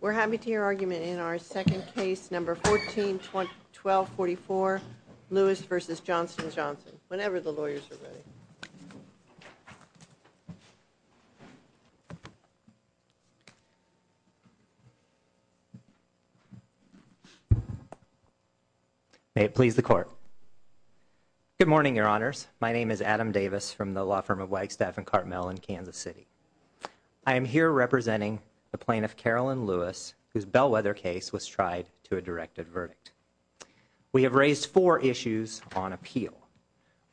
We're happy to hear argument in our second case, number 14-1244, Lewis v. Johnson & Johnson, whenever the lawyers are ready. May it please the Court. Good morning, Your Honors. My name is Adam Davis from the law firm of Wagstaff & Carmel in Kansas City. I am here representing the plaintiff, Carolyn Lewis, whose Bellwether case was tried to a directed verdict. We have raised four issues on appeal.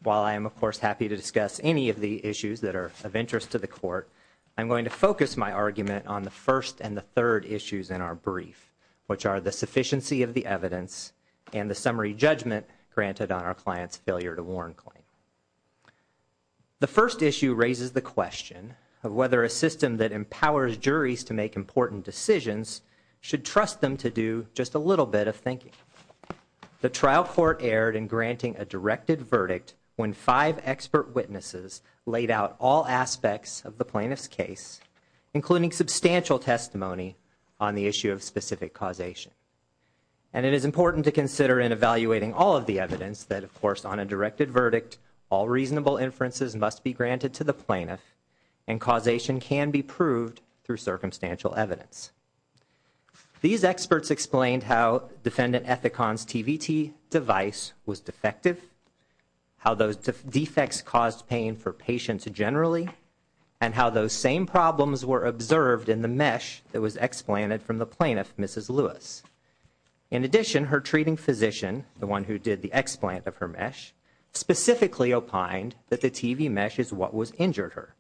While I am, of course, happy to discuss any of the issues that are of interest to the Court, I'm going to focus my argument on the first and the third issues in our brief, which are the sufficiency of the evidence and the summary judgment granted on our client's failure to warn claim. The first issue raises the question of whether a system that empowers juries to make important decisions should trust them to do just a little bit of thinking. The trial court erred in granting a directed verdict when five expert witnesses laid out all aspects of the plaintiff's case, including substantial testimony on the issue of specific causation. And it is important to consider in evaluating all of the evidence that, of course, on a directed verdict, all reasonable inferences must be granted to the plaintiff and causation can be proved through circumstantial evidence. These experts explained how Defendant Ethicon's TVT device was defective, how those defects caused pain for patients generally, and how those same problems were observed in the mesh that was explanted from the plaintiff, Mrs. Lewis. In addition, her treating physician, the one who did the explant of her mesh, specifically opined that the TV mesh is what was injured her,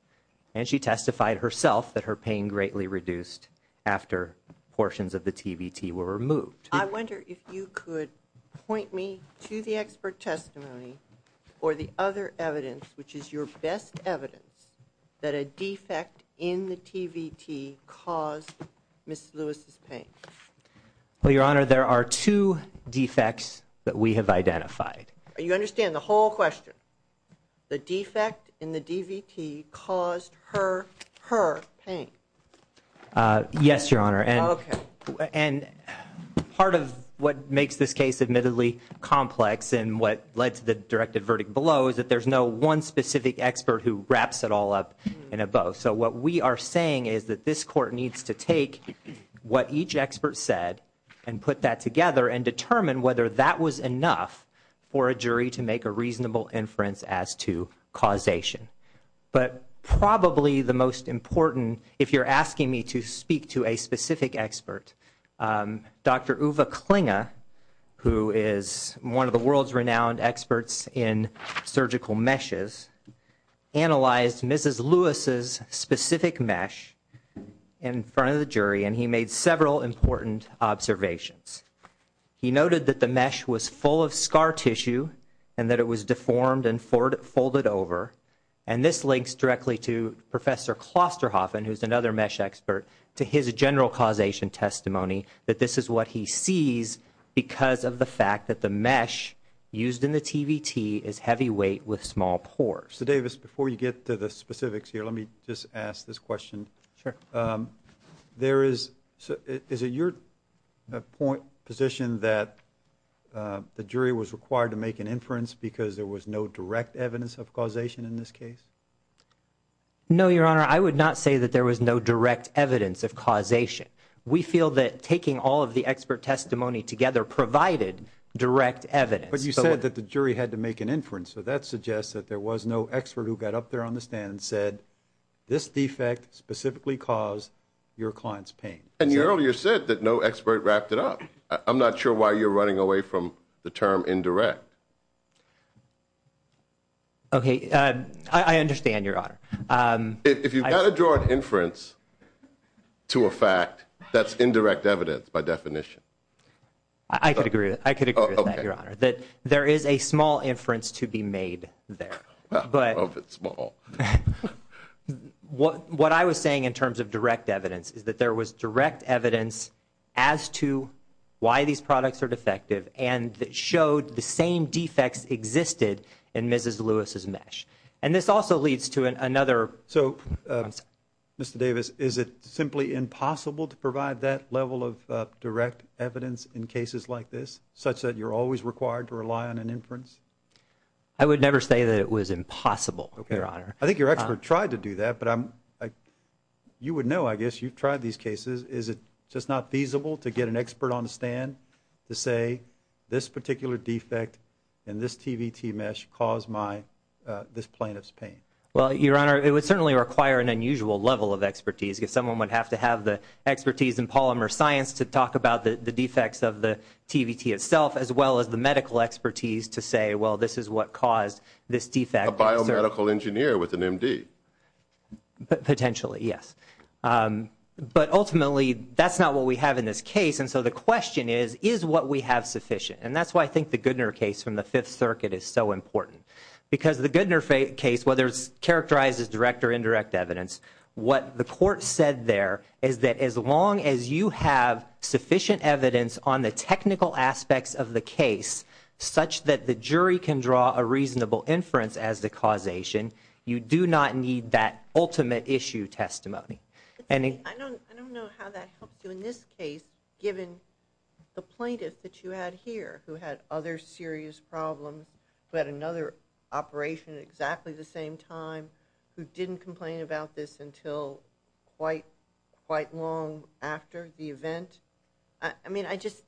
and she testified herself that her pain greatly reduced after portions of the TVT were removed. I wonder if you could point me to the expert testimony or the other evidence, which is your best evidence that a defect in the TVT caused Mrs. Lewis's pain. Well, Your Honor, there are two defects that we have identified. You understand the whole question? The defect in the TVT caused her pain? Yes, Your Honor. Okay. And part of what makes this case admittedly complex and what led to the directed verdict below is that there's no one specific expert who wraps it all up in a bow. So what we are saying is that this Court needs to take what each expert said and put that together and determine whether that was enough for a jury to make a reasonable inference as to causation. But probably the most important, if you're asking me to speak to a specific expert, Dr. Uwe Klinge, who is one of the world's renowned experts in surgical meshes, analyzed Mrs. Lewis's specific mesh in front of the jury, and he made several important observations. He noted that the mesh was full of scar tissue and that it was deformed and folded over, and this links directly to Professor Klosterhoffen, who is another mesh expert, to his general causation testimony that this is what he sees because of the fact that the mesh used in the TVT is heavyweight with small pores. So, Davis, before you get to the specifics here, let me just ask this question. Sure. Is it your position that the jury was required to make an inference because there was no direct evidence of causation in this case? No, Your Honor, I would not say that there was no direct evidence of causation. We feel that taking all of the expert testimony together provided direct evidence. But you said that the jury had to make an inference, so that suggests that there was no expert who got up there on the stand and said, this defect specifically caused your client's pain. And you earlier said that no expert wrapped it up. I'm not sure why you're running away from the term indirect. Okay, I understand, Your Honor. If you've got to draw an inference to a fact, that's indirect evidence by definition. I could agree with that, Your Honor. That there is a small inference to be made there. Well, I hope it's small. What I was saying in terms of direct evidence is that there was direct evidence as to why these products are defective and that showed the same defects existed in Mrs. Lewis's mesh. And this also leads to another concept. So, Mr. Davis, is it simply impossible to provide that level of direct evidence in cases like this such that you're always required to rely on an inference? I would never say that it was impossible, Your Honor. I think your expert tried to do that, but you would know, I guess, you've tried these cases. Is it just not feasible to get an expert on the stand to say, this particular defect in this TVT mesh caused this plaintiff's pain? Well, Your Honor, it would certainly require an unusual level of expertise. Someone would have to have the expertise in polymer science to talk about the defects of the TVT itself, as well as the medical expertise to say, well, this is what caused this defect. A biomedical engineer with an M.D.? Potentially, yes. But ultimately, that's not what we have in this case, and so the question is, is what we have sufficient? And that's why I think the Goodner case from the Fifth Circuit is so important. Because the Goodner case, whether it's characterized as direct or indirect evidence, what the court said there is that as long as you have sufficient evidence on the technical aspects of the case, such that the jury can draw a reasonable inference as the causation, you do not need that ultimate issue testimony. I don't know how that helps you in this case, given the plaintiff that you had here, who had other serious problems, who had another operation at exactly the same time, who didn't complain about this until quite long after the event. I mean, I just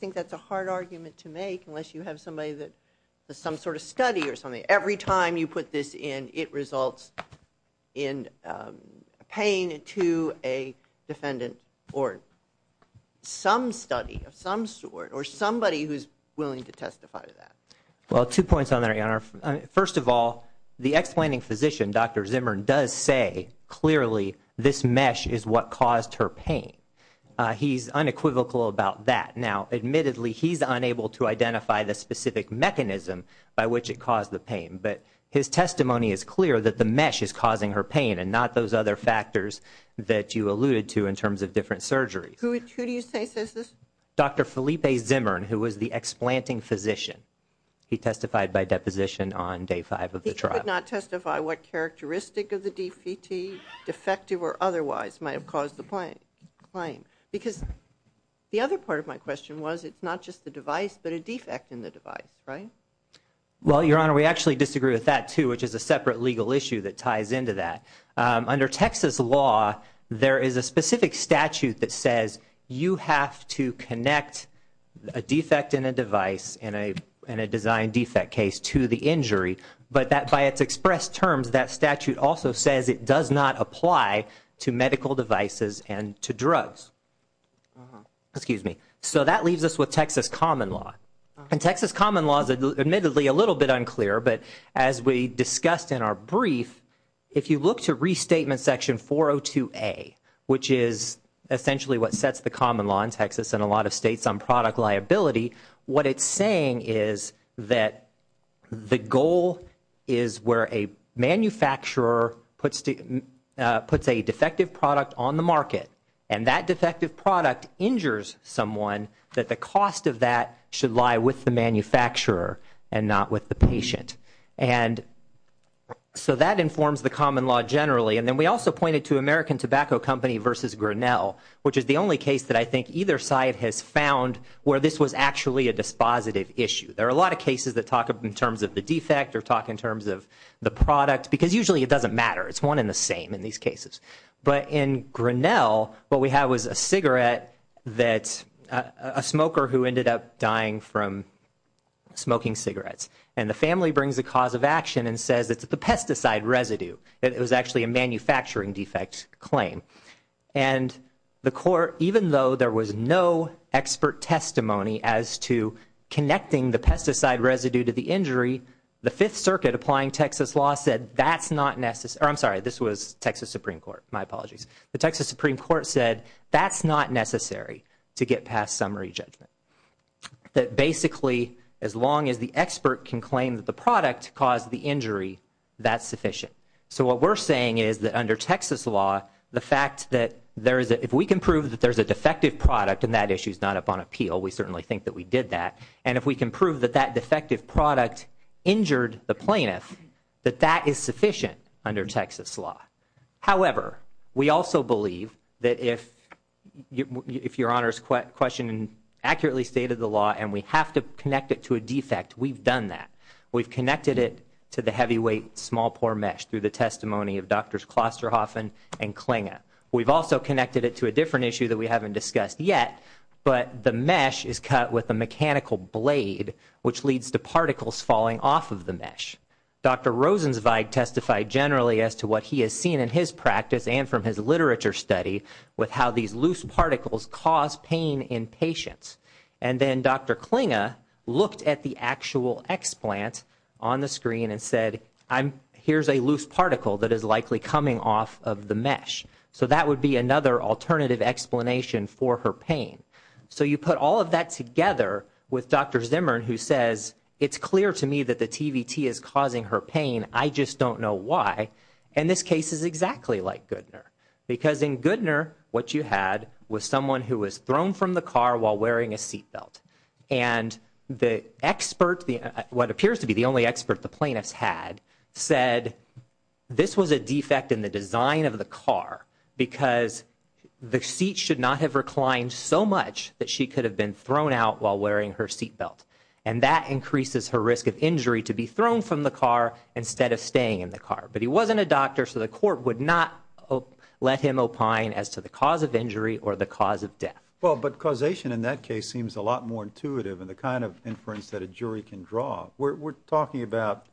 think that's a hard argument to make unless you have somebody that does some sort of study or something. Every time you put this in, it results in paying to a defendant or some study of some sort, or somebody who's willing to testify to that. Well, two points on there, Your Honor. First of all, the explanting physician, Dr. Zimmern, does say clearly this mesh is what caused her pain. He's unequivocal about that. Now, admittedly, he's unable to identify the specific mechanism by which it caused the pain, but his testimony is clear that the mesh is causing her pain and not those other factors that you alluded to in terms of different surgeries. Who do you say says this? Dr. Felipe Zimmern, who was the explanting physician. He testified by deposition on day five of the trial. He could not testify what characteristic of the defective or otherwise might have caused the pain, because the other part of my question was it's not just the device, but a defect in the device, right? Well, Your Honor, we actually disagree with that, too, which is a separate legal issue that ties into that. Under Texas law, there is a specific statute that says you have to connect a defect in a device in a design defect case to the injury, but that by its expressed terms, that statute also says it does not apply to medical devices and to drugs. Excuse me. So that leaves us with Texas common law. And Texas common law is admittedly a little bit unclear, but as we discussed in our brief, if you look to restatement section 402A, which is essentially what sets the common law in Texas and a lot of states on product liability, what it's saying is that the goal is where a manufacturer puts a defective product on the market, and that defective product injures someone, that the cost of that should lie with the manufacturer and not with the patient. And so that informs the common law generally. And then we also pointed to American Tobacco Company versus Grinnell, which is the only case that I think either side has found where this was actually a dispositive issue. There are a lot of cases that talk in terms of the defect or talk in terms of the product, because usually it doesn't matter. It's one and the same in these cases. But in Grinnell, what we have was a cigarette that a smoker who ended up dying from smoking cigarettes, and the family brings a cause of action and says it's the pesticide residue. It was actually a manufacturing defect claim. And the court, even though there was no expert testimony as to connecting the pesticide residue to the injury, the Fifth Circuit applying Texas law said that's not necessary. I'm sorry, this was Texas Supreme Court. My apologies. The Texas Supreme Court said that's not necessary to get past summary judgment. That basically as long as the expert can claim that the product caused the injury, that's sufficient. So what we're saying is that under Texas law, the fact that if we can prove that there's a defective product, and that issue's not up on appeal, we certainly think that we did that, and if we can prove that that defective product injured the plaintiff, that that is sufficient under Texas law. However, we also believe that if Your Honor's question accurately stated the law, and we have to connect it to a defect, we've done that. We've connected it to the heavyweight small pore mesh through the testimony of Drs. Klosterhoff and Klinga. We've also connected it to a different issue that we haven't discussed yet, but the mesh is cut with a mechanical blade, which leads to particles falling off of the mesh. Dr. Rosenzweig testified generally as to what he has seen in his practice and from his literature study with how these loose particles cause pain in patients. And then Dr. Klinga looked at the actual explant on the screen and said, here's a loose particle that is likely coming off of the mesh. So that would be another alternative explanation for her pain. So you put all of that together with Dr. Zimmern, who says, it's clear to me that the TVT is causing her pain, I just don't know why. And this case is exactly like Goodner. Because in Goodner, what you had was someone who was thrown from the car while wearing a seat belt. And the expert, what appears to be the only expert the plaintiffs had, said, this was a defect in the design of the car because the seat should not have reclined so much that she could have been thrown out while wearing her seat belt. And that increases her risk of injury to be thrown from the car instead of staying in the car. But he wasn't a doctor, so the court would not let him opine as to the cause of injury or the cause of death. Well, but causation in that case seems a lot more intuitive in the kind of inference that a jury can draw. We're talking about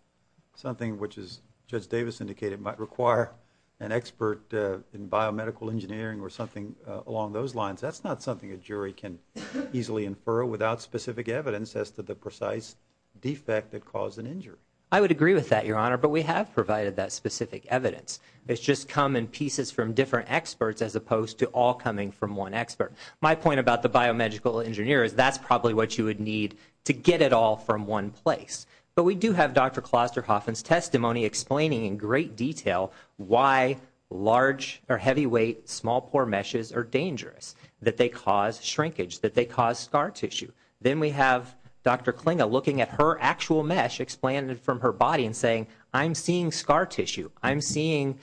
something which, as Judge Davis indicated, might require an expert in biomedical engineering or something along those lines. That's not something a jury can easily infer without specific evidence as to the precise defect that caused an injury. I would agree with that, Your Honor, but we have provided that specific evidence. It's just come in pieces from different experts as opposed to all coming from one expert. My point about the biomedical engineer is that's probably what you would need to get it all from one place. But we do have Dr. Klosterhoffen's testimony explaining in great detail why large or heavyweight small pore meshes are dangerous, that they cause shrinkage, that they cause scar tissue. Then we have Dr. Klinga looking at her actual mesh, explaining it from her body and saying, I'm seeing scar tissue. I'm seeing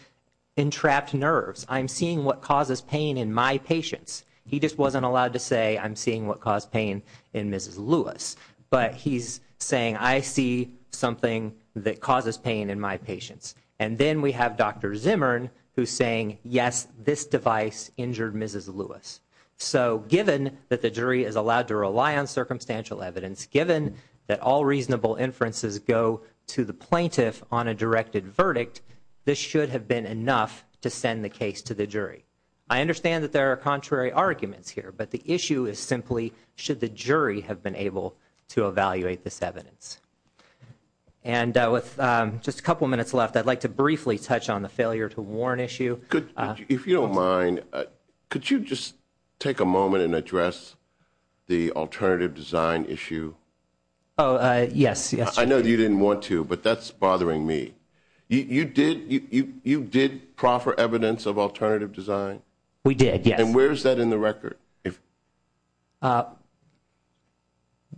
entrapped nerves. I'm seeing what causes pain in my patients. He just wasn't allowed to say, I'm seeing what caused pain in Mrs. Lewis. But he's saying, I see something that causes pain in my patients. And then we have Dr. Zimmern who's saying, yes, this device injured Mrs. Lewis. So given that the jury is allowed to rely on circumstantial evidence, given that all reasonable inferences go to the plaintiff on a directed verdict, this should have been enough to send the case to the jury. I understand that there are contrary arguments here, but the issue is simply should the jury have been able to evaluate this evidence. And with just a couple minutes left, I'd like to briefly touch on the failure to warn issue. If you don't mind, could you just take a moment and address the alternative design issue? Oh, yes. I know you didn't want to, but that's bothering me. You did proffer evidence of alternative design? We did, yes. And where is that in the record?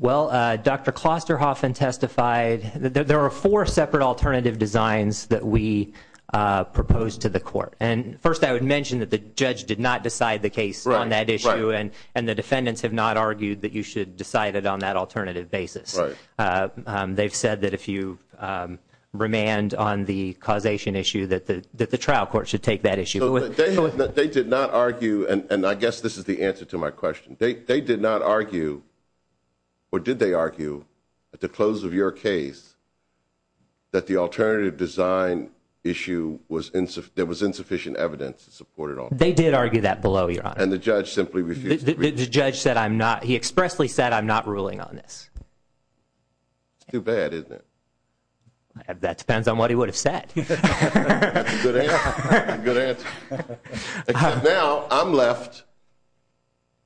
Well, Dr. Klosterhoffen testified that there are four separate alternative designs that we proposed to the court. And first I would mention that the judge did not decide the case on that issue, and the defendants have not argued that you should decide it on that alternative basis. Right. They've said that if you remand on the causation issue that the trial court should take that issue. They did not argue, and I guess this is the answer to my question, they did not argue or did they argue at the close of your case that the alternative design issue, there was insufficient evidence to support it all. They did argue that below you, Your Honor. And the judge simply refused. The judge said I'm not, he expressly said I'm not ruling on this. It's too bad, isn't it? That depends on what he would have said. That's a good answer. Except now I'm left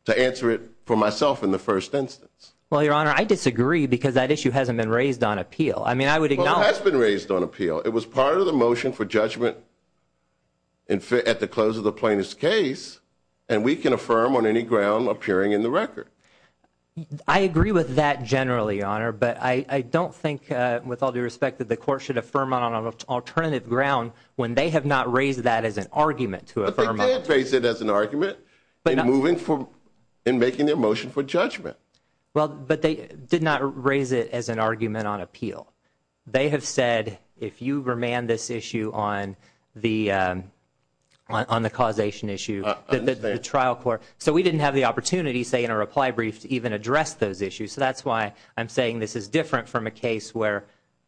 to answer it for myself in the first instance. Well, Your Honor, I disagree because that issue hasn't been raised on appeal. I mean, I would acknowledge. Well, it has been raised on appeal. It was part of the motion for judgment at the close of the plaintiff's case, and we can affirm on any ground appearing in the record. I agree with that generally, Your Honor, but I don't think with all due respect that the court should affirm on an alternative ground when they have not raised that as an argument to affirm on appeal. But they did raise it as an argument in making their motion for judgment. Well, but they did not raise it as an argument on appeal. They have said if you remand this issue on the causation issue, the trial court. So we didn't have the opportunity, say, in a reply brief to even address those issues. So that's why I'm saying this is different from a case where,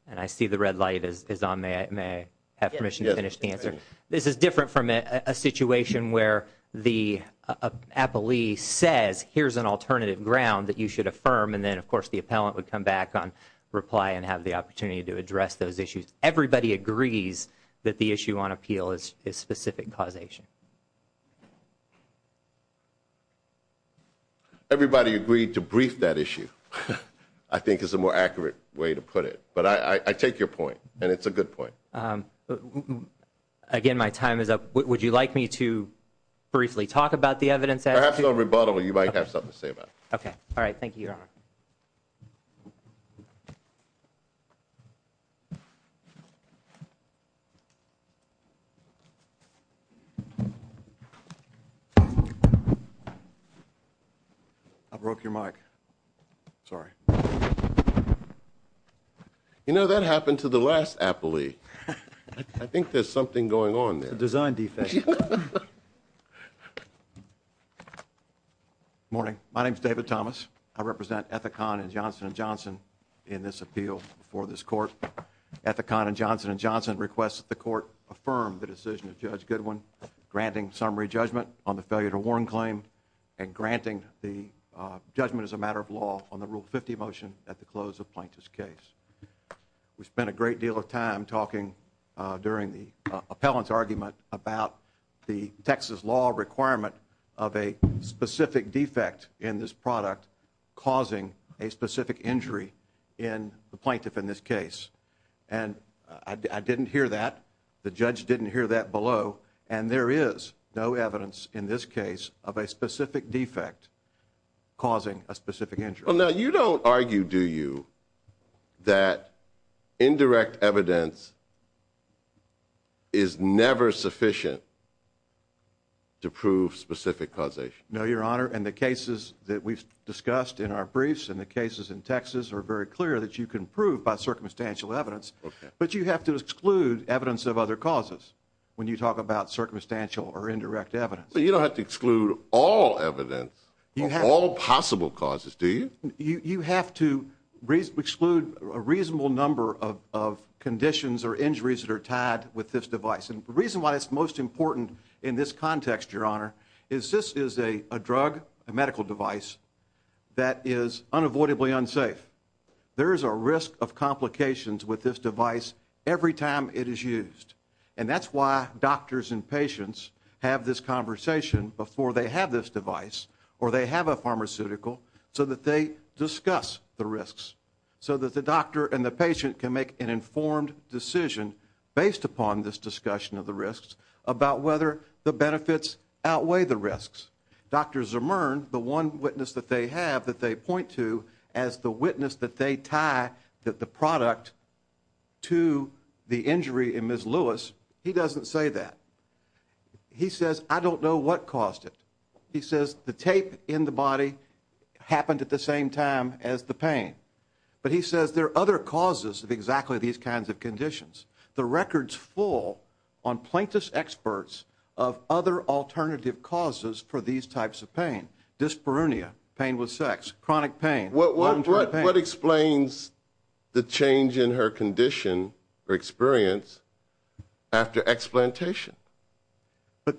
and I see the red light is on. May I have permission to finish the answer? This is different from a situation where the appellee says here's an alternative ground that you should affirm, and then, of course, the appellant would come back on reply and have the opportunity to address those issues. Everybody agrees that the issue on appeal is specific causation. Everybody agreed to brief that issue, I think is a more accurate way to put it. But I take your point, and it's a good point. Again, my time is up. Would you like me to briefly talk about the evidence? Perhaps on rebuttal you might have something to say about it. Okay. All right, thank you, Your Honor. I broke your mic. Sorry. You know, that happened to the last appellee. I think there's something going on there. It's a design defect. Morning. My name is David Thomas. I represent Ethicon and Johnson & Johnson in this appeal for this court. Ethicon and Johnson & Johnson request that the court affirm the decision of Judge Goodwin granting summary judgment on the failure to warn claim and granting the judgment as a matter of law on the Rule 50 motion at the close of plaintiff's case. We spent a great deal of time talking during the appellant's argument about the Texas law requirement of a specific defect in this product causing a specific injury in the plaintiff in this case. And I didn't hear that. The judge didn't hear that below. And there is no evidence in this case of a specific defect causing a specific injury. Well, now, you don't argue, do you, that indirect evidence is never sufficient to prove specific causation? No, Your Honor, and the cases that we've discussed in our briefs and the cases in Texas are very clear that you can prove by circumstantial evidence, but you have to exclude evidence of other causes when you talk about circumstantial or indirect evidence. So you don't have to exclude all evidence of all possible causes, do you? You have to exclude a reasonable number of conditions or injuries that are tied with this device. And the reason why it's most important in this context, Your Honor, is this is a drug, a medical device, that is unavoidably unsafe. There is a risk of complications with this device every time it is used. And that's why doctors and patients have this conversation before they have this device or they have a pharmaceutical so that they discuss the risks, so that the doctor and the patient can make an informed decision based upon this discussion of the risks about whether the benefits outweigh the risks. Dr. Zimmern, the one witness that they have that they point to as the witness that they tie that the product to the injury in Ms. Lewis, he doesn't say that. He says, I don't know what caused it. He says the tape in the body happened at the same time as the pain. But he says there are other causes of exactly these kinds of conditions. The record's full on plaintiff's experts of other alternative causes for these types of pain. Dyspareunia, pain with sex, chronic pain, long-term pain. What explains the change in her condition or experience after explantation? But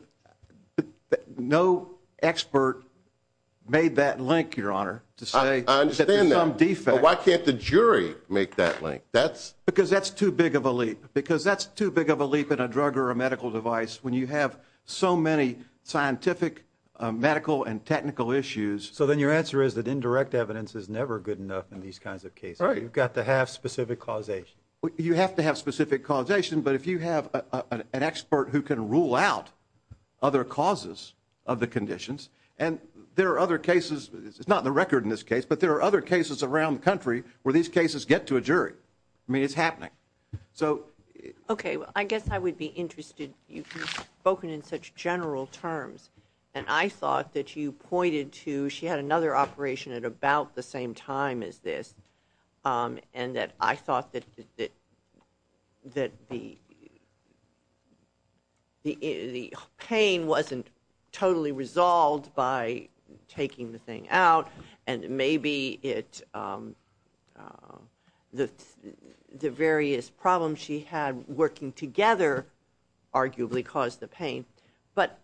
no expert made that link, Your Honor, to say that there's some defect. I understand that. But why can't the jury make that link? Because that's too big of a leap. Because that's too big of a leap in a drug or a medical device when you have so many scientific, medical, and technical issues. So then your answer is that indirect evidence is never good enough in these kinds of cases. You've got to have specific causation. You have to have specific causation. But if you have an expert who can rule out other causes of the conditions, and there are other cases. It's not in the record in this case. But there are other cases around the country where these cases get to a jury. I mean, it's happening. Okay, well, I guess I would be interested. You've spoken in such general terms. And I thought that you pointed to she had another operation at about the same time as this. And that I thought that the pain wasn't totally resolved by taking the thing out. And maybe the various problems she had working together arguably caused the pain. But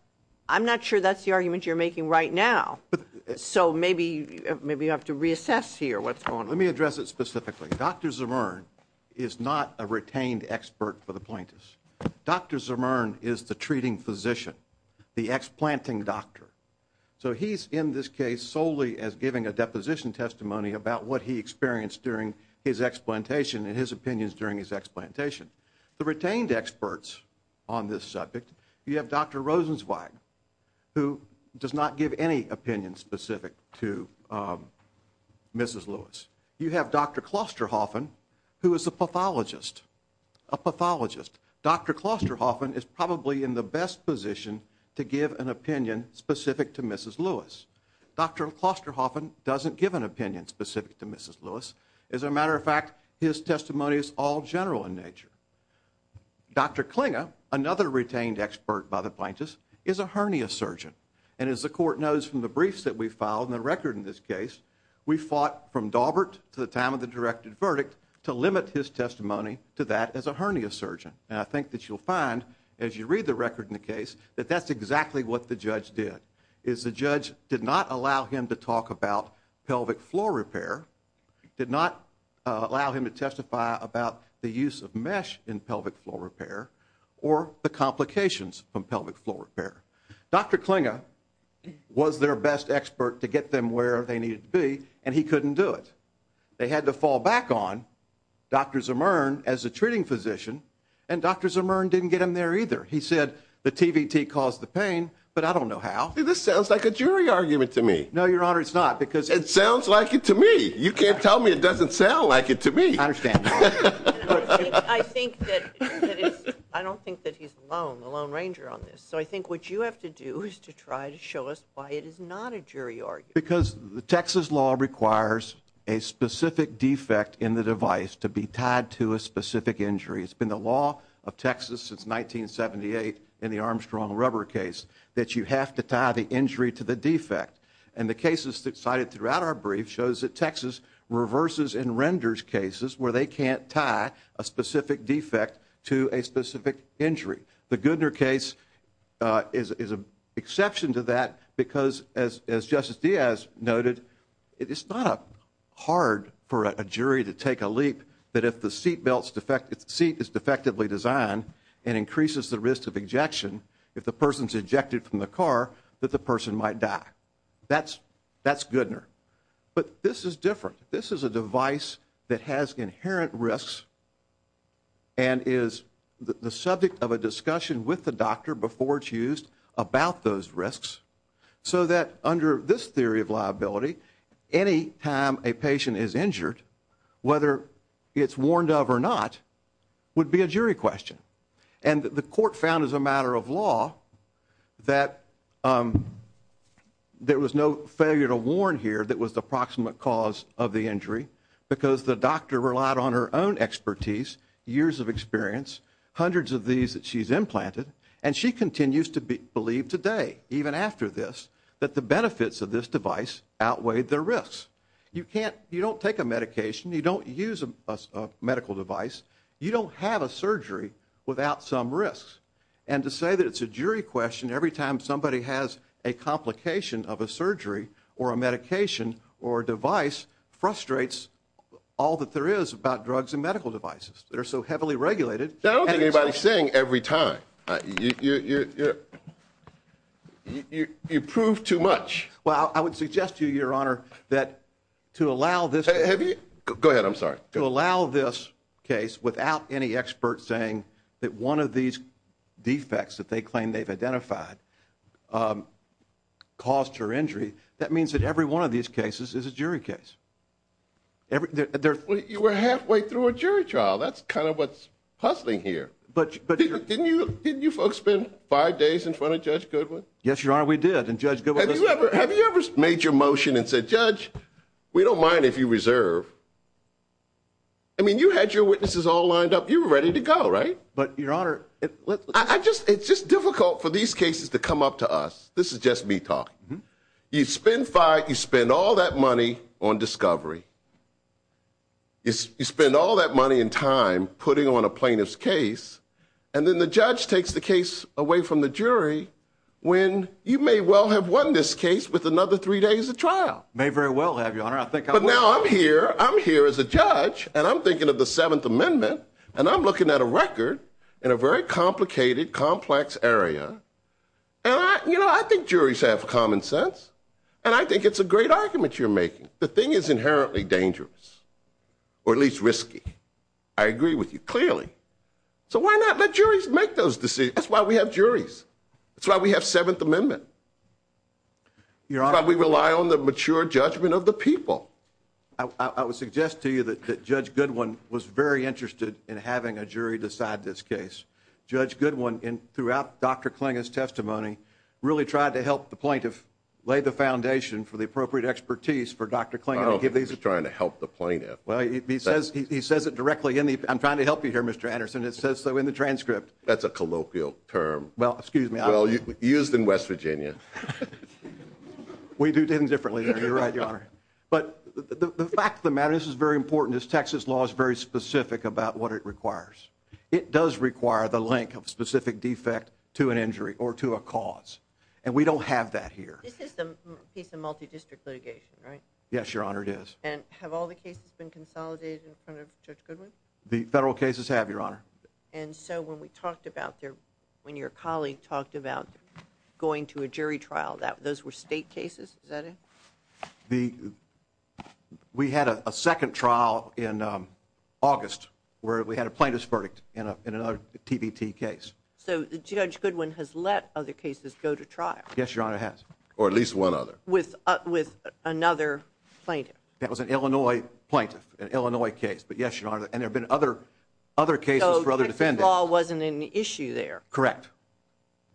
I'm not sure that's the argument you're making right now. So maybe you have to reassess here what's going on. Let me address it specifically. Dr. Zimmern is not a retained expert for the plaintiffs. Dr. Zimmern is the treating physician, the explanting doctor. So he's in this case solely as giving a deposition testimony about what he experienced during his explantation and his opinions during his explantation. The retained experts on this subject, you have Dr. Rosenzweig, who does not give any opinion specific to Mrs. Lewis. You have Dr. Klosterhoffen, who is a pathologist, a pathologist. Dr. Klosterhoffen is probably in the best position to give an opinion specific to Mrs. Lewis. Dr. Klosterhoffen doesn't give an opinion specific to Mrs. Lewis. As a matter of fact, his testimony is all general in nature. Dr. Klinge, another retained expert by the plaintiffs, is a hernia surgeon. And as the court knows from the briefs that we filed and the record in this case, we fought from Daubert to the time of the directed verdict to limit his testimony to that as a hernia surgeon. And I think that you'll find as you read the record in the case that that's exactly what the judge did. The judge did not allow him to talk about pelvic floor repair, did not allow him to testify about the use of mesh in pelvic floor repair, or the complications from pelvic floor repair. Dr. Klinge was their best expert to get them where they needed to be, and he couldn't do it. They had to fall back on Dr. Zimmern as a treating physician, and Dr. Zimmern didn't get him there either. He said the TVT caused the pain, but I don't know how. This sounds like a jury argument to me. No, Your Honor, it's not. It sounds like it to me. You can't tell me it doesn't sound like it to me. I understand. I don't think that he's alone, the Lone Ranger on this. So I think what you have to do is to try to show us why it is not a jury argument. Because the Texas law requires a specific defect in the device to be tied to a specific injury. It's been the law of Texas since 1978 in the Armstrong rubber case that you have to tie the injury to the defect. And the cases cited throughout our brief shows that Texas reverses and renders cases where they can't tie a specific defect to a specific injury. The Goodner case is an exception to that because, as Justice Diaz noted, it's not hard for a jury to take a leap that if the seat is defectively designed and increases the risk of ejection, if the person is ejected from the car, that the person might die. That's Goodner. But this is different. This is a device that has inherent risks and is the subject of a discussion with the doctor before it's used about those risks so that under this theory of liability, any time a patient is injured, whether it's warned of or not, would be a jury question. And the court found as a matter of law that there was no failure to warn here that was the approximate cause of the injury because the doctor relied on her own expertise, years of experience, hundreds of these that she's implanted, and she continues to believe today, even after this, that the benefits of this device outweigh the risks. You don't take a medication. You don't use a medical device. You don't have a surgery without some risks. And to say that it's a jury question every time somebody has a complication of a surgery or a medication or a device frustrates all that there is about drugs and medical devices that are so heavily regulated. I don't think anybody's saying every time. You prove too much. Well, I would suggest to you, Your Honor, that to allow this case without any experts saying that one of these defects that they claim they've identified caused her injury, that means that every one of these cases is a jury case. You were halfway through a jury trial. That's kind of what's hustling here. But didn't you folks spend five days in front of Judge Goodwin? Yes, Your Honor, we did. And Judge Goodwin was there. Have you ever made your motion and said, Judge, we don't mind if you reserve? I mean, you had your witnesses all lined up. You were ready to go, right? But, Your Honor, it's just difficult for these cases to come up to us. This is just me talking. You spend all that money on discovery. You spend all that money and time putting on a plaintiff's case. And then the judge takes the case away from the jury when you may well have won this case with another three days of trial. May very well have, Your Honor. I think I will. But now I'm here. I'm here as a judge. And I'm thinking of the Seventh Amendment. And I'm looking at a record in a very complicated, complex area. And, you know, I think juries have common sense. And I think it's a great argument you're making. The thing is inherently dangerous, or at least risky. I agree with you clearly. So why not let juries make those decisions? That's why we have juries. That's why we have Seventh Amendment. That's why we rely on the mature judgment of the people. I would suggest to you that Judge Goodwin was very interested in having a jury decide this case. Judge Goodwin, throughout Dr. Klingin's testimony, really tried to help the plaintiff lay the foundation for the appropriate expertise for Dr. Klingin. I don't think he was trying to help the plaintiff. Well, he says it directly. I'm trying to help you here, Mr. Anderson. It says so in the transcript. That's a colloquial term. Well, excuse me. Well, used in West Virginia. We do things differently there. You're right, Your Honor. But the fact of the matter, this is very important, is Texas law is very specific about what it requires. It does require the link of specific defect to an injury or to a cause. And we don't have that here. This is a piece of multi-district litigation, right? Yes, Your Honor, it is. And have all the cases been consolidated in front of Judge Goodwin? The federal cases have, Your Honor. And so when we talked about, when your colleague talked about going to a jury trial, those were state cases? Is that it? We had a second trial in August where we had a plaintiff's verdict in another TBT case. So Judge Goodwin has let other cases go to trial? Yes, Your Honor, he has. Or at least one other. With another plaintiff? That was an Illinois plaintiff, an Illinois case. But yes, Your Honor, and there have been other cases for other defendants. So Texas law wasn't an issue there? Correct.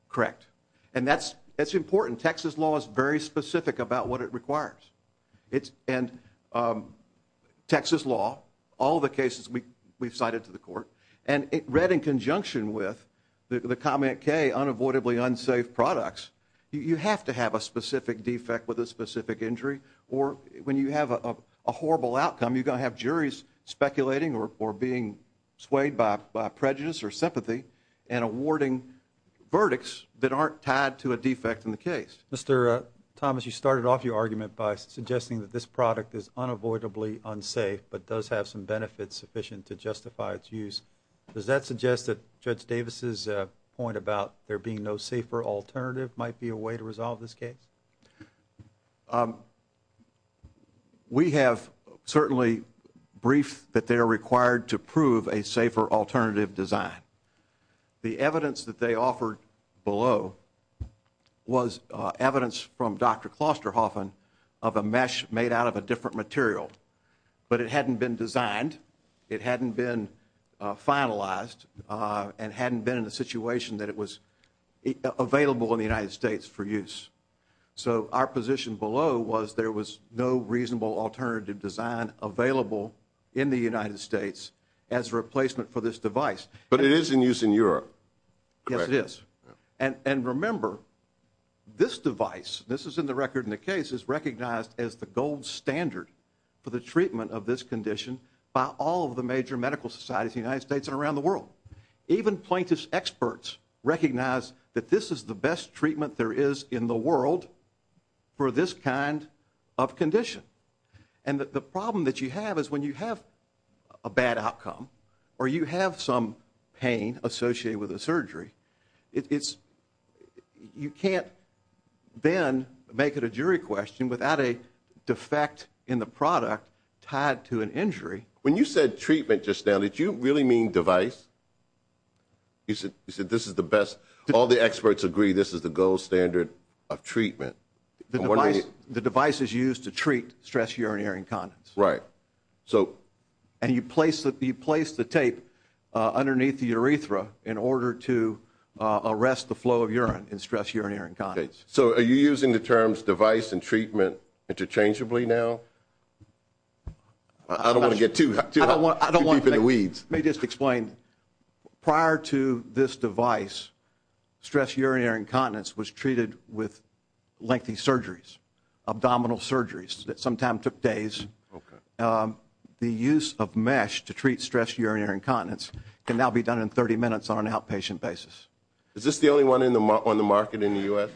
Correct. And that's important. Texas law is very specific about what it requires. And Texas law, all the cases we've cited to the court, and read in conjunction with the comment K, unavoidably unsafe products, you have to have a specific defect with a specific injury. Or when you have a horrible outcome, you're going to have juries speculating or being swayed by prejudice or sympathy and awarding verdicts that aren't tied to a defect in the case. Mr. Thomas, you started off your argument by suggesting that this product is unavoidably unsafe but does have some benefits sufficient to justify its use. Does that suggest that Judge Davis' point about there being no safer alternative might be a way to resolve this case? We have certainly briefed that they are required to prove a safer alternative design. The evidence that they offered below was evidence from Dr. Klosterhoffen of a mesh made out of a different material. But it hadn't been designed, it hadn't been finalized, and hadn't been in a situation that it was available in the United States for use. So our position below was there was no reasonable alternative design available in the United States as a replacement for this device. But it is in use in Europe, correct? Yes, it is. And remember, this device, this is in the record in the case, is recognized as the gold standard for the treatment of this condition by all of the major medical societies in the United States and around the world. Even plaintiff's experts recognize that this is the best treatment there is in the world for this kind of condition. And the problem that you have is when you have a bad outcome or you have some pain associated with a surgery, you can't then make it a jury question without a defect in the product tied to an injury. When you said treatment just now, did you really mean device? You said this is the best, all the experts agree this is the gold standard of treatment. The device is used to treat stress urinary incontinence. Right. And you place the tape underneath the urethra in order to arrest the flow of urine in stress urinary incontinence. So are you using the terms device and treatment interchangeably now? I don't want to get too deep in the weeds. Let me just explain. Prior to this device, stress urinary incontinence was treated with lengthy surgeries, abdominal surgeries that sometimes took days. The use of mesh to treat stress urinary incontinence can now be done in 30 minutes on an outpatient basis. Is this the only one on the market in the U.S.?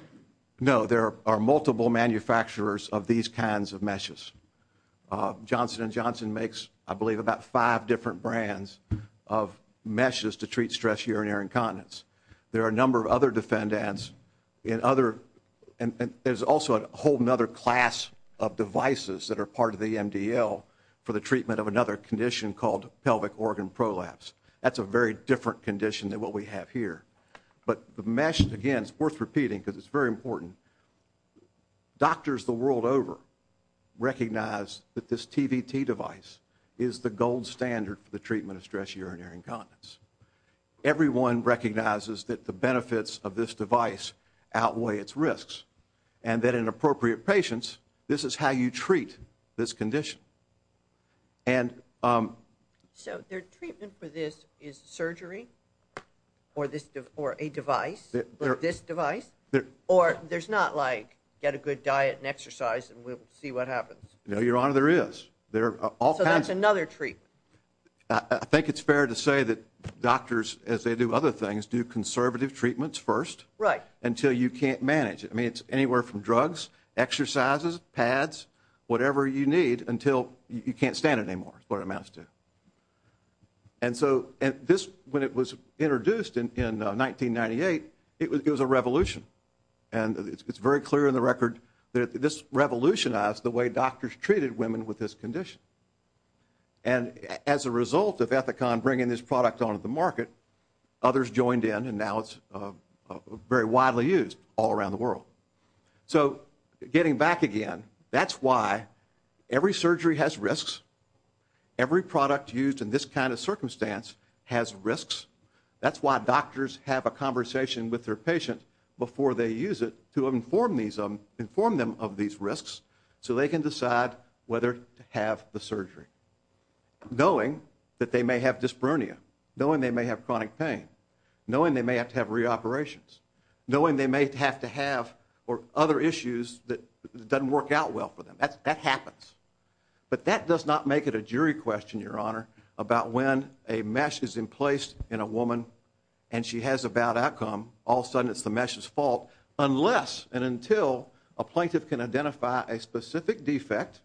No, there are multiple manufacturers of these kinds of meshes. Johnson & Johnson makes, I believe, about five different brands of meshes to treat stress urinary incontinence. There are a number of other defendants. There's also a whole other class of devices that are part of the MDL for the treatment of another condition called pelvic organ prolapse. That's a very different condition than what we have here. But the mesh, again, it's worth repeating because it's very important. Doctors the world over recognize that this TVT device is the gold standard for the treatment of stress urinary incontinence. Everyone recognizes that the benefits of this device outweigh its risks and that in appropriate patients, this is how you treat this condition. So their treatment for this is surgery or a device, this device? Or there's not like get a good diet and exercise and we'll see what happens? No, Your Honor, there is. So that's another treatment? I think it's fair to say that doctors, as they do other things, do conservative treatments first. Right. Until you can't manage it. I mean, it's anywhere from drugs, exercises, pads, whatever you need until you can't stand it anymore is what it amounts to. And so this, when it was introduced in 1998, it was a revolution. And it's very clear in the record that this revolutionized the way doctors treated women with this condition. And as a result of Ethicon bringing this product onto the market, others joined in and now it's very widely used all around the world. So getting back again, that's why every surgery has risks. Every product used in this kind of circumstance has risks. That's why doctors have a conversation with their patient before they use it to inform them of these risks so they can decide whether to have the surgery, knowing that they may have dyspronia, knowing they may have chronic pain, knowing they may have to have reoperations, knowing they may have to have other issues that doesn't work out well for them. That happens. But that does not make it a jury question, Your Honor, about when a mesh is in place in a woman and she has a bad outcome, all of a sudden it's the mesh's fault, unless and until a plaintiff can identify a specific defect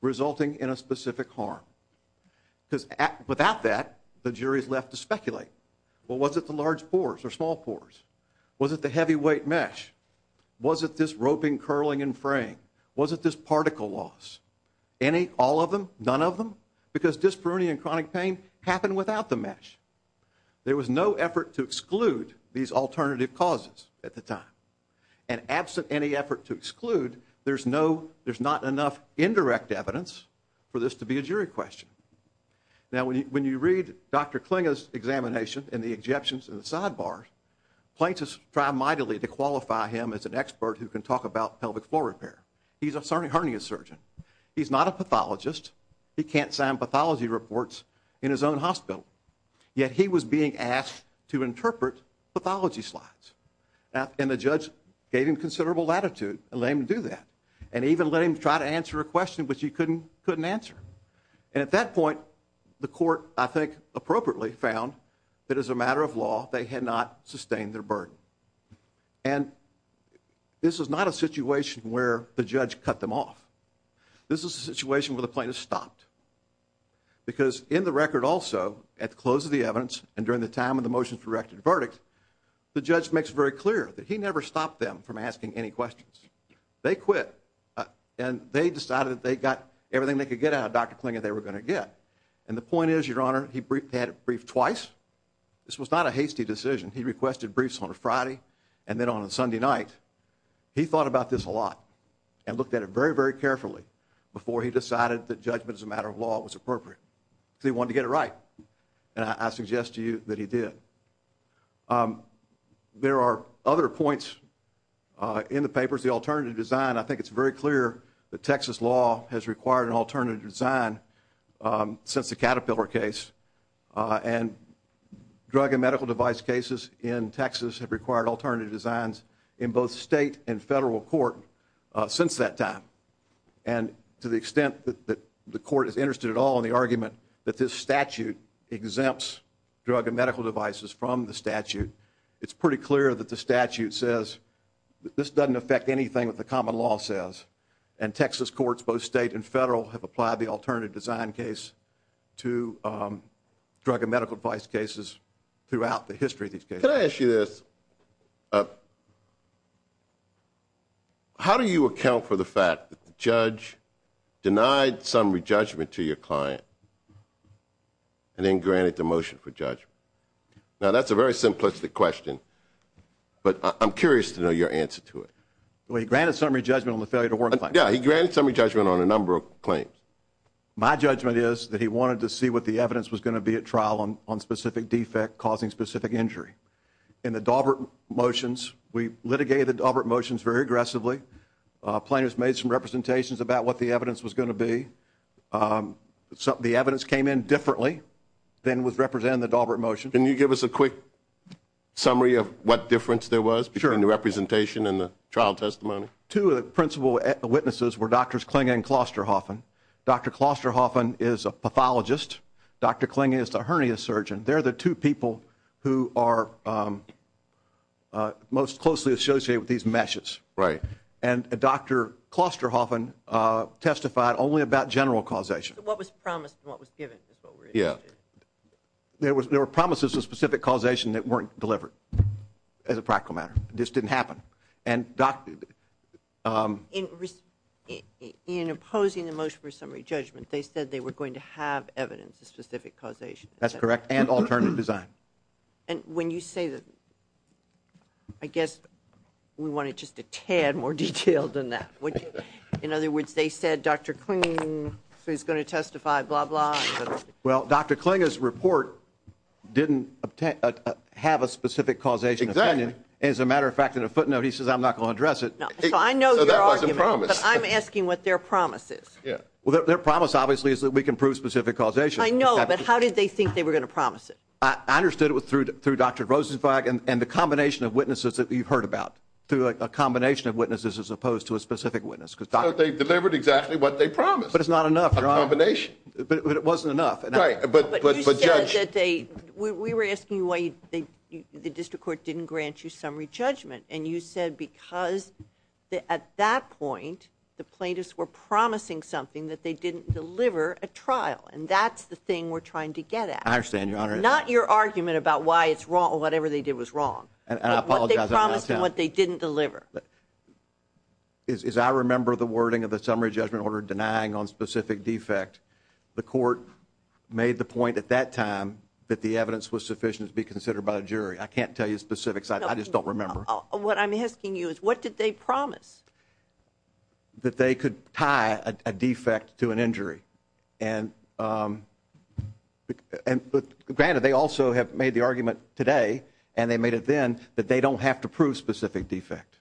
resulting in a specific harm. Because without that, the jury's left to speculate. Well, was it the large pores or small pores? Was it the heavyweight mesh? Was it this roping, curling, and fraying? Was it this particle loss? Any, all of them, none of them? Because dyspronia and chronic pain happen without the mesh. There was no effort to exclude these alternative causes at the time. And absent any effort to exclude, there's no, there's not enough indirect evidence for this to be a jury question. Now, when you read Dr. Klinga's examination and the exceptions and the sidebars, plaintiffs try mightily to qualify him as an expert who can talk about pelvic floor repair. He's a hernia surgeon. He's not a pathologist. He can't sign pathology reports in his own hospital. Yet he was being asked to interpret pathology slides. And the judge gave him considerable latitude and let him do that. And even let him try to answer a question which he couldn't answer. And at that point, the court, I think appropriately, found that as a matter of law, they had not sustained their burden. And this is not a situation where the judge cut them off. This is a situation where the plaintiff stopped. Because in the record also, at the close of the evidence and during the time of the motions directed verdict, the judge makes it very clear that he never stopped them from asking any questions. They quit. And they decided they got everything they could get out of Dr. Klinga they were going to get. And the point is, Your Honor, he had to brief twice. This was not a hasty decision. He requested briefs on a Friday and then on a Sunday night. He thought about this a lot and looked at it very, very carefully before he decided that judgment as a matter of law was appropriate. He wanted to get it right. And I suggest to you that he did. There are other points in the papers. The alternative design, I think it's very clear that Texas law has required an alternative design since the Caterpillar case. And drug and medical device cases in Texas have required alternative designs in both state and federal court since that time. And to the extent that the court is interested at all in the argument that this statute exempts drug and medical devices from the statute, it's pretty clear that the statute says this doesn't affect anything that the common law says. And Texas courts, both state and federal, have applied the alternative design case to drug and medical device cases throughout the history of these cases. Can I ask you this? How do you account for the fact that the judge denied summary judgment to your client and then granted the motion for judgment? Now, that's a very simplistic question, but I'm curious to know your answer to it. Well, he granted summary judgment on the failure to work claim. Yeah, he granted summary judgment on a number of claims. My judgment is that he wanted to see what the evidence was going to be at trial on specific defect causing specific injury. In the Daubert motions, we litigated the Daubert motions very aggressively. Plaintiffs made some representations about what the evidence was going to be. The evidence came in differently than was represented in the Daubert motions. Can you give us a quick summary of what difference there was between the representation and the trial testimony? Two of the principal witnesses were Drs. Kling and Klosterhoffen. Dr. Klosterhoffen is a pathologist. Dr. Kling is a hernia surgeon. They're the two people who are most closely associated with these meshes. Right. And Dr. Klosterhoffen testified only about general causation. What was promised and what was given is what we're interested in. There were promises of specific causation that weren't delivered as a practical matter. This didn't happen. In opposing the motion for summary judgment, they said they were going to have evidence of specific causation. That's correct, and alternative design. And when you say that, I guess we want it just a tad more detailed than that. In other words, they said Dr. Kling is going to testify, blah, blah. Well, Dr. Kling's report didn't have a specific causation. Exactly. As a matter of fact, in a footnote, he says, I'm not going to address it. So I know your argument. So that wasn't promised. But I'm asking what their promise is. Well, their promise, obviously, is that we can prove specific causation. I know, but how did they think they were going to promise it? I understood it was through Dr. Rosenbach and the combination of witnesses that you've heard about, through a combination of witnesses as opposed to a specific witness. So they delivered exactly what they promised. But it's not enough. A combination. But it wasn't enough. But judge. You said that they, we were asking why the district court didn't grant you summary judgment. And you said because at that point, the plaintiffs were promising something that they didn't deliver at trial. And that's the thing we're trying to get at. I understand, Your Honor. Not your argument about why it's wrong or whatever they did was wrong. And I apologize. But what they promised and what they didn't deliver. As I remember the wording of the summary judgment order denying on specific defect, the court made the point at that time that the evidence was sufficient to be considered by a jury. I can't tell you specifics. I just don't remember. What I'm asking you is what did they promise? That they could tie a defect to an injury. And granted, they also have made the argument today, and they made it then, that they don't have to prove specific defect.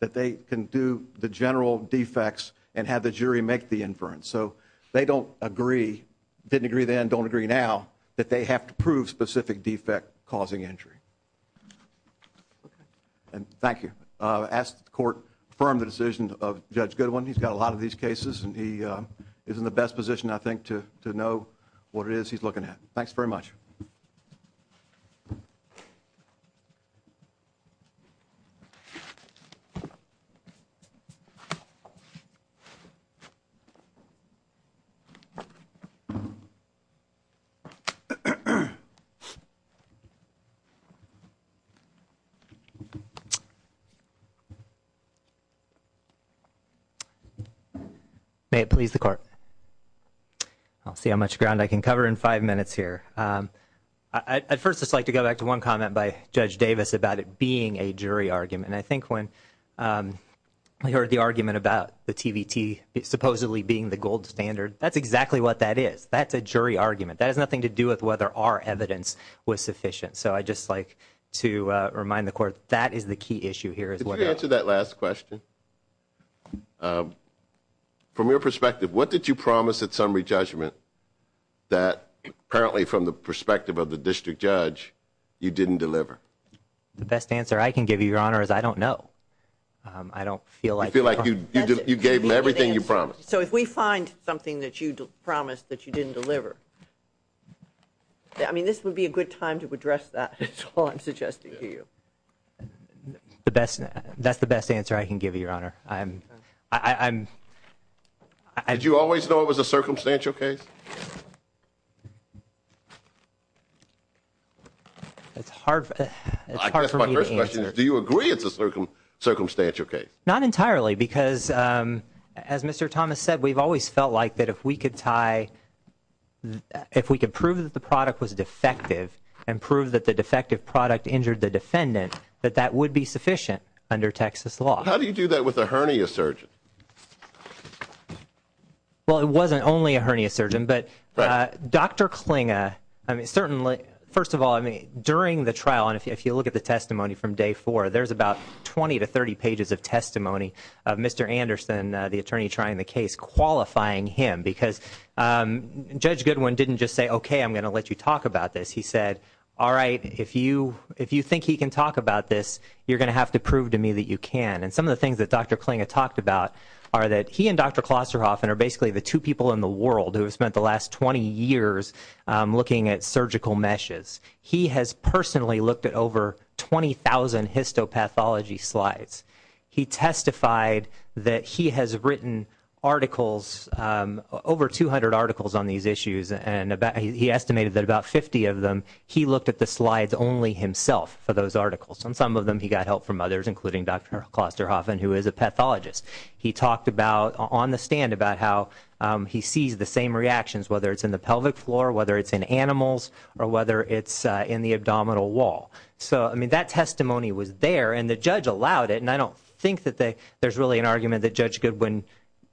That they can do the general defects and have the jury make the inference. So they don't agree, didn't agree then, don't agree now, that they have to prove specific defect causing injury. And thank you. I ask that the court affirm the decision of Judge Goodwin. He's got a lot of these cases, and he is in the best position, I think, to know what it is he's looking at. Thanks very much. May it please the court. I'll see how much ground I can cover in five minutes here. I'd first just like to go back to one comment by Judge Davis about it being a jury argument. And I think when you heard the argument about the TVT supposedly being the gold standard, that's exactly what that is. That's a jury argument. That has nothing to do with whether our evidence was sufficient. So I'd just like to remind the court that is the key issue here. Could you answer that last question? From your perspective, what did you promise at summary judgment that, apparently from the perspective of the district judge, you didn't deliver? The best answer I can give you, Your Honor, is I don't know. I don't feel like... You feel like you gave them everything you promised. So if we find something that you promised that you didn't deliver, I mean, this would be a good time to address that. That's all I'm suggesting to you. That's the best answer I can give you, Your Honor. Did you always know it was a circumstantial case? It's hard for me to answer. Do you agree it's a circumstantial case? Not entirely, because as Mr. Thomas said, we've always felt like that if we could tie... if we could prove that the product was defective and prove that the defective product injured the defendant, that that would be sufficient under Texas law. How do you do that with a hernia surgeon? Well, it wasn't only a hernia surgeon, but Dr. Klinga... I mean, certainly... First of all, I mean, during the trial, and if you look at the testimony from day four, there's about 20 to 30 pages of testimony of Mr. Anderson, the attorney trying the case, qualifying him, because Judge Goodwin didn't just say, Okay, I'm going to let you talk about this. He said, All right, if you think he can talk about this, you're going to have to prove to me that you can. And some of the things that Dr. Klinga talked about are that he and Dr. Klosterhoffen are basically the two people in the world who have spent the last 20 years looking at surgical meshes. He has personally looked at over 20,000 histopathology slides. He testified that he has written articles, over 200 articles on these issues, and he estimated that about 50 of them, he looked at the slides only himself for those articles. On some of them, he got help from others, including Dr. Klosterhoffen, who is a pathologist. He talked on the stand about how he sees the same reactions, whether it's in the pelvic floor, whether it's in animals, or whether it's in the abdominal wall. So, I mean, that testimony was there, and the judge allowed it, and I don't think that there's really an argument that Judge Goodwin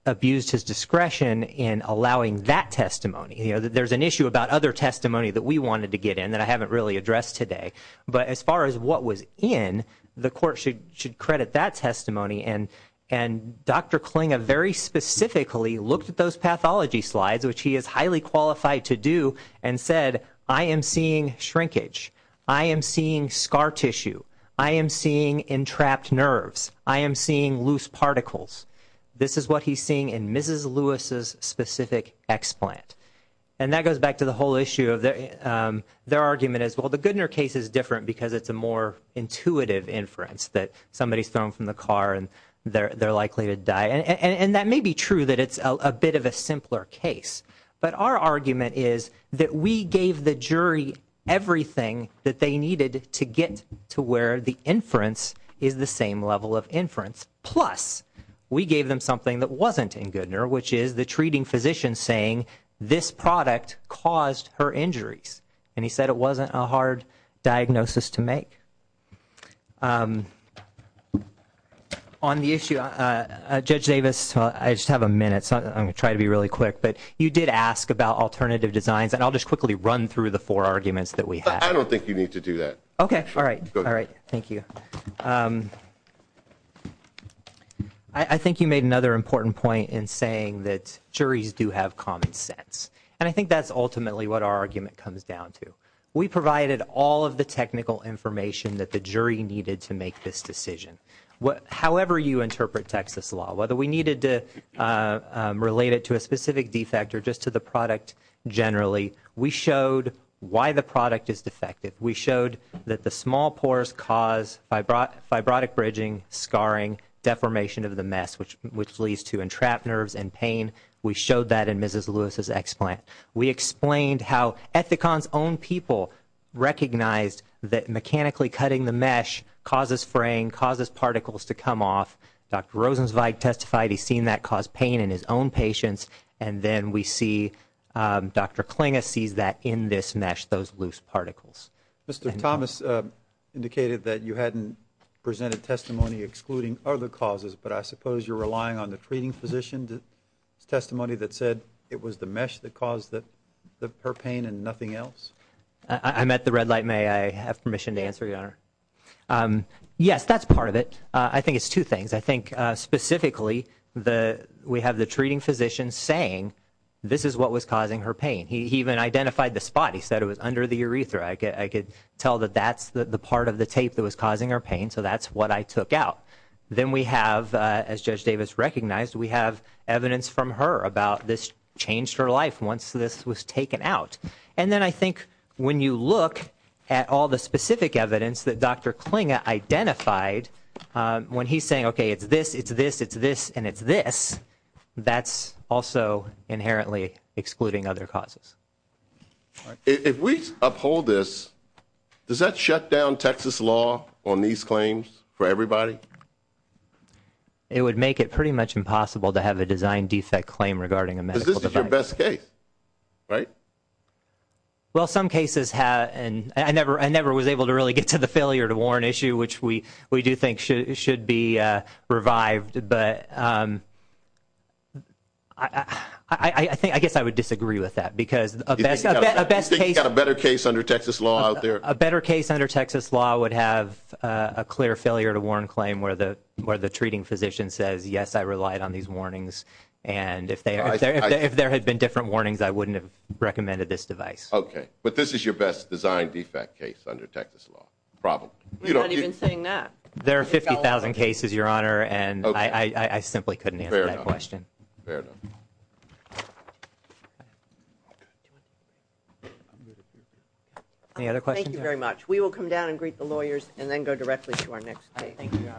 abused his discretion in allowing that testimony. There's an issue about other testimony that we wanted to get in that I haven't really addressed today. But as far as what was in, the court should credit that testimony. And Dr. Klinga very specifically looked at those pathology slides, which he is highly qualified to do, and said, I am seeing shrinkage. I am seeing scar tissue. I am seeing entrapped nerves. I am seeing loose particles. This is what he's seeing in Mrs. Lewis's specific explant. And that goes back to the whole issue of their argument is, well, the Goodner case is different because it's a more intuitive inference that somebody's thrown from the car and they're likely to die. And that may be true that it's a bit of a simpler case, but our argument is that we gave the jury everything that they needed to get to where the inference is the same level of inference, plus we gave them something that wasn't in Goodner, which is the treating physician saying this product caused her injuries. And he said it wasn't a hard diagnosis to make. On the issue, Judge Davis, I just have a minute, so I'm going to try to be really quick. But you did ask about alternative designs, and I'll just quickly run through the four arguments that we have. I don't think you need to do that. Okay, all right. All right. Thank you. I think you made another important point in saying that juries do have common sense. And I think that's ultimately what our argument comes down to. We provided all of the technical information that the jury needed to make this decision. However you interpret Texas law, whether we needed to relate it to a specific defect or just to the product generally, we showed why the product is defective. We showed that the small pores cause fibrotic bridging, scarring, deformation of the mesh, which leads to entrapped nerves and pain. We showed that in Mrs. Lewis' explant. We explained how Ethicon's own people recognized that mechanically cutting the mesh causes fraying, causes particles to come off. Dr. Rosenzweig testified he's seen that cause pain in his own patients. And then we see Dr. Klinge sees that in this mesh, those loose particles. Mr. Thomas indicated that you hadn't presented testimony excluding other causes, but I suppose you're relying on the treating physician's testimony that said it was the mesh that caused her pain and nothing else? I'm at the red light. May I have permission to answer, Your Honor? Yes, that's part of it. I think it's two things. I think specifically we have the treating physician saying this is what was causing her pain. He even identified the spot. He said it was under the urethra. I could tell that that's the part of the tape that was causing her pain, so that's what I took out. Then we have, as Judge Davis recognized, we have evidence from her about this changed her life once this was taken out. And then I think when you look at all the specific evidence that Dr. Klinge identified, when he's saying, okay, it's this, it's this, it's this, and it's this, that's also inherently excluding other causes. If we uphold this, does that shut down Texas law on these claims for everybody? It would make it pretty much impossible to have a design defect claim regarding a medical device. Because this is your best case, right? Well, some cases have. I never was able to really get to the failure to warn issue, which we do think should be revived. But I guess I would disagree with that because a best case. You think you've got a better case under Texas law out there? A better case under Texas law would have a clear failure to warn claim where the treating physician says, yes, I relied on these warnings. And if there had been different warnings, I wouldn't have recommended this device. Okay, but this is your best design defect case under Texas law. You're not even saying that. There are 50,000 cases, Your Honor, and I simply couldn't answer that question. Fair enough. Any other questions? Thank you very much. We will come down and greet the lawyers and then go directly to our next case. Thank you, Your Honor.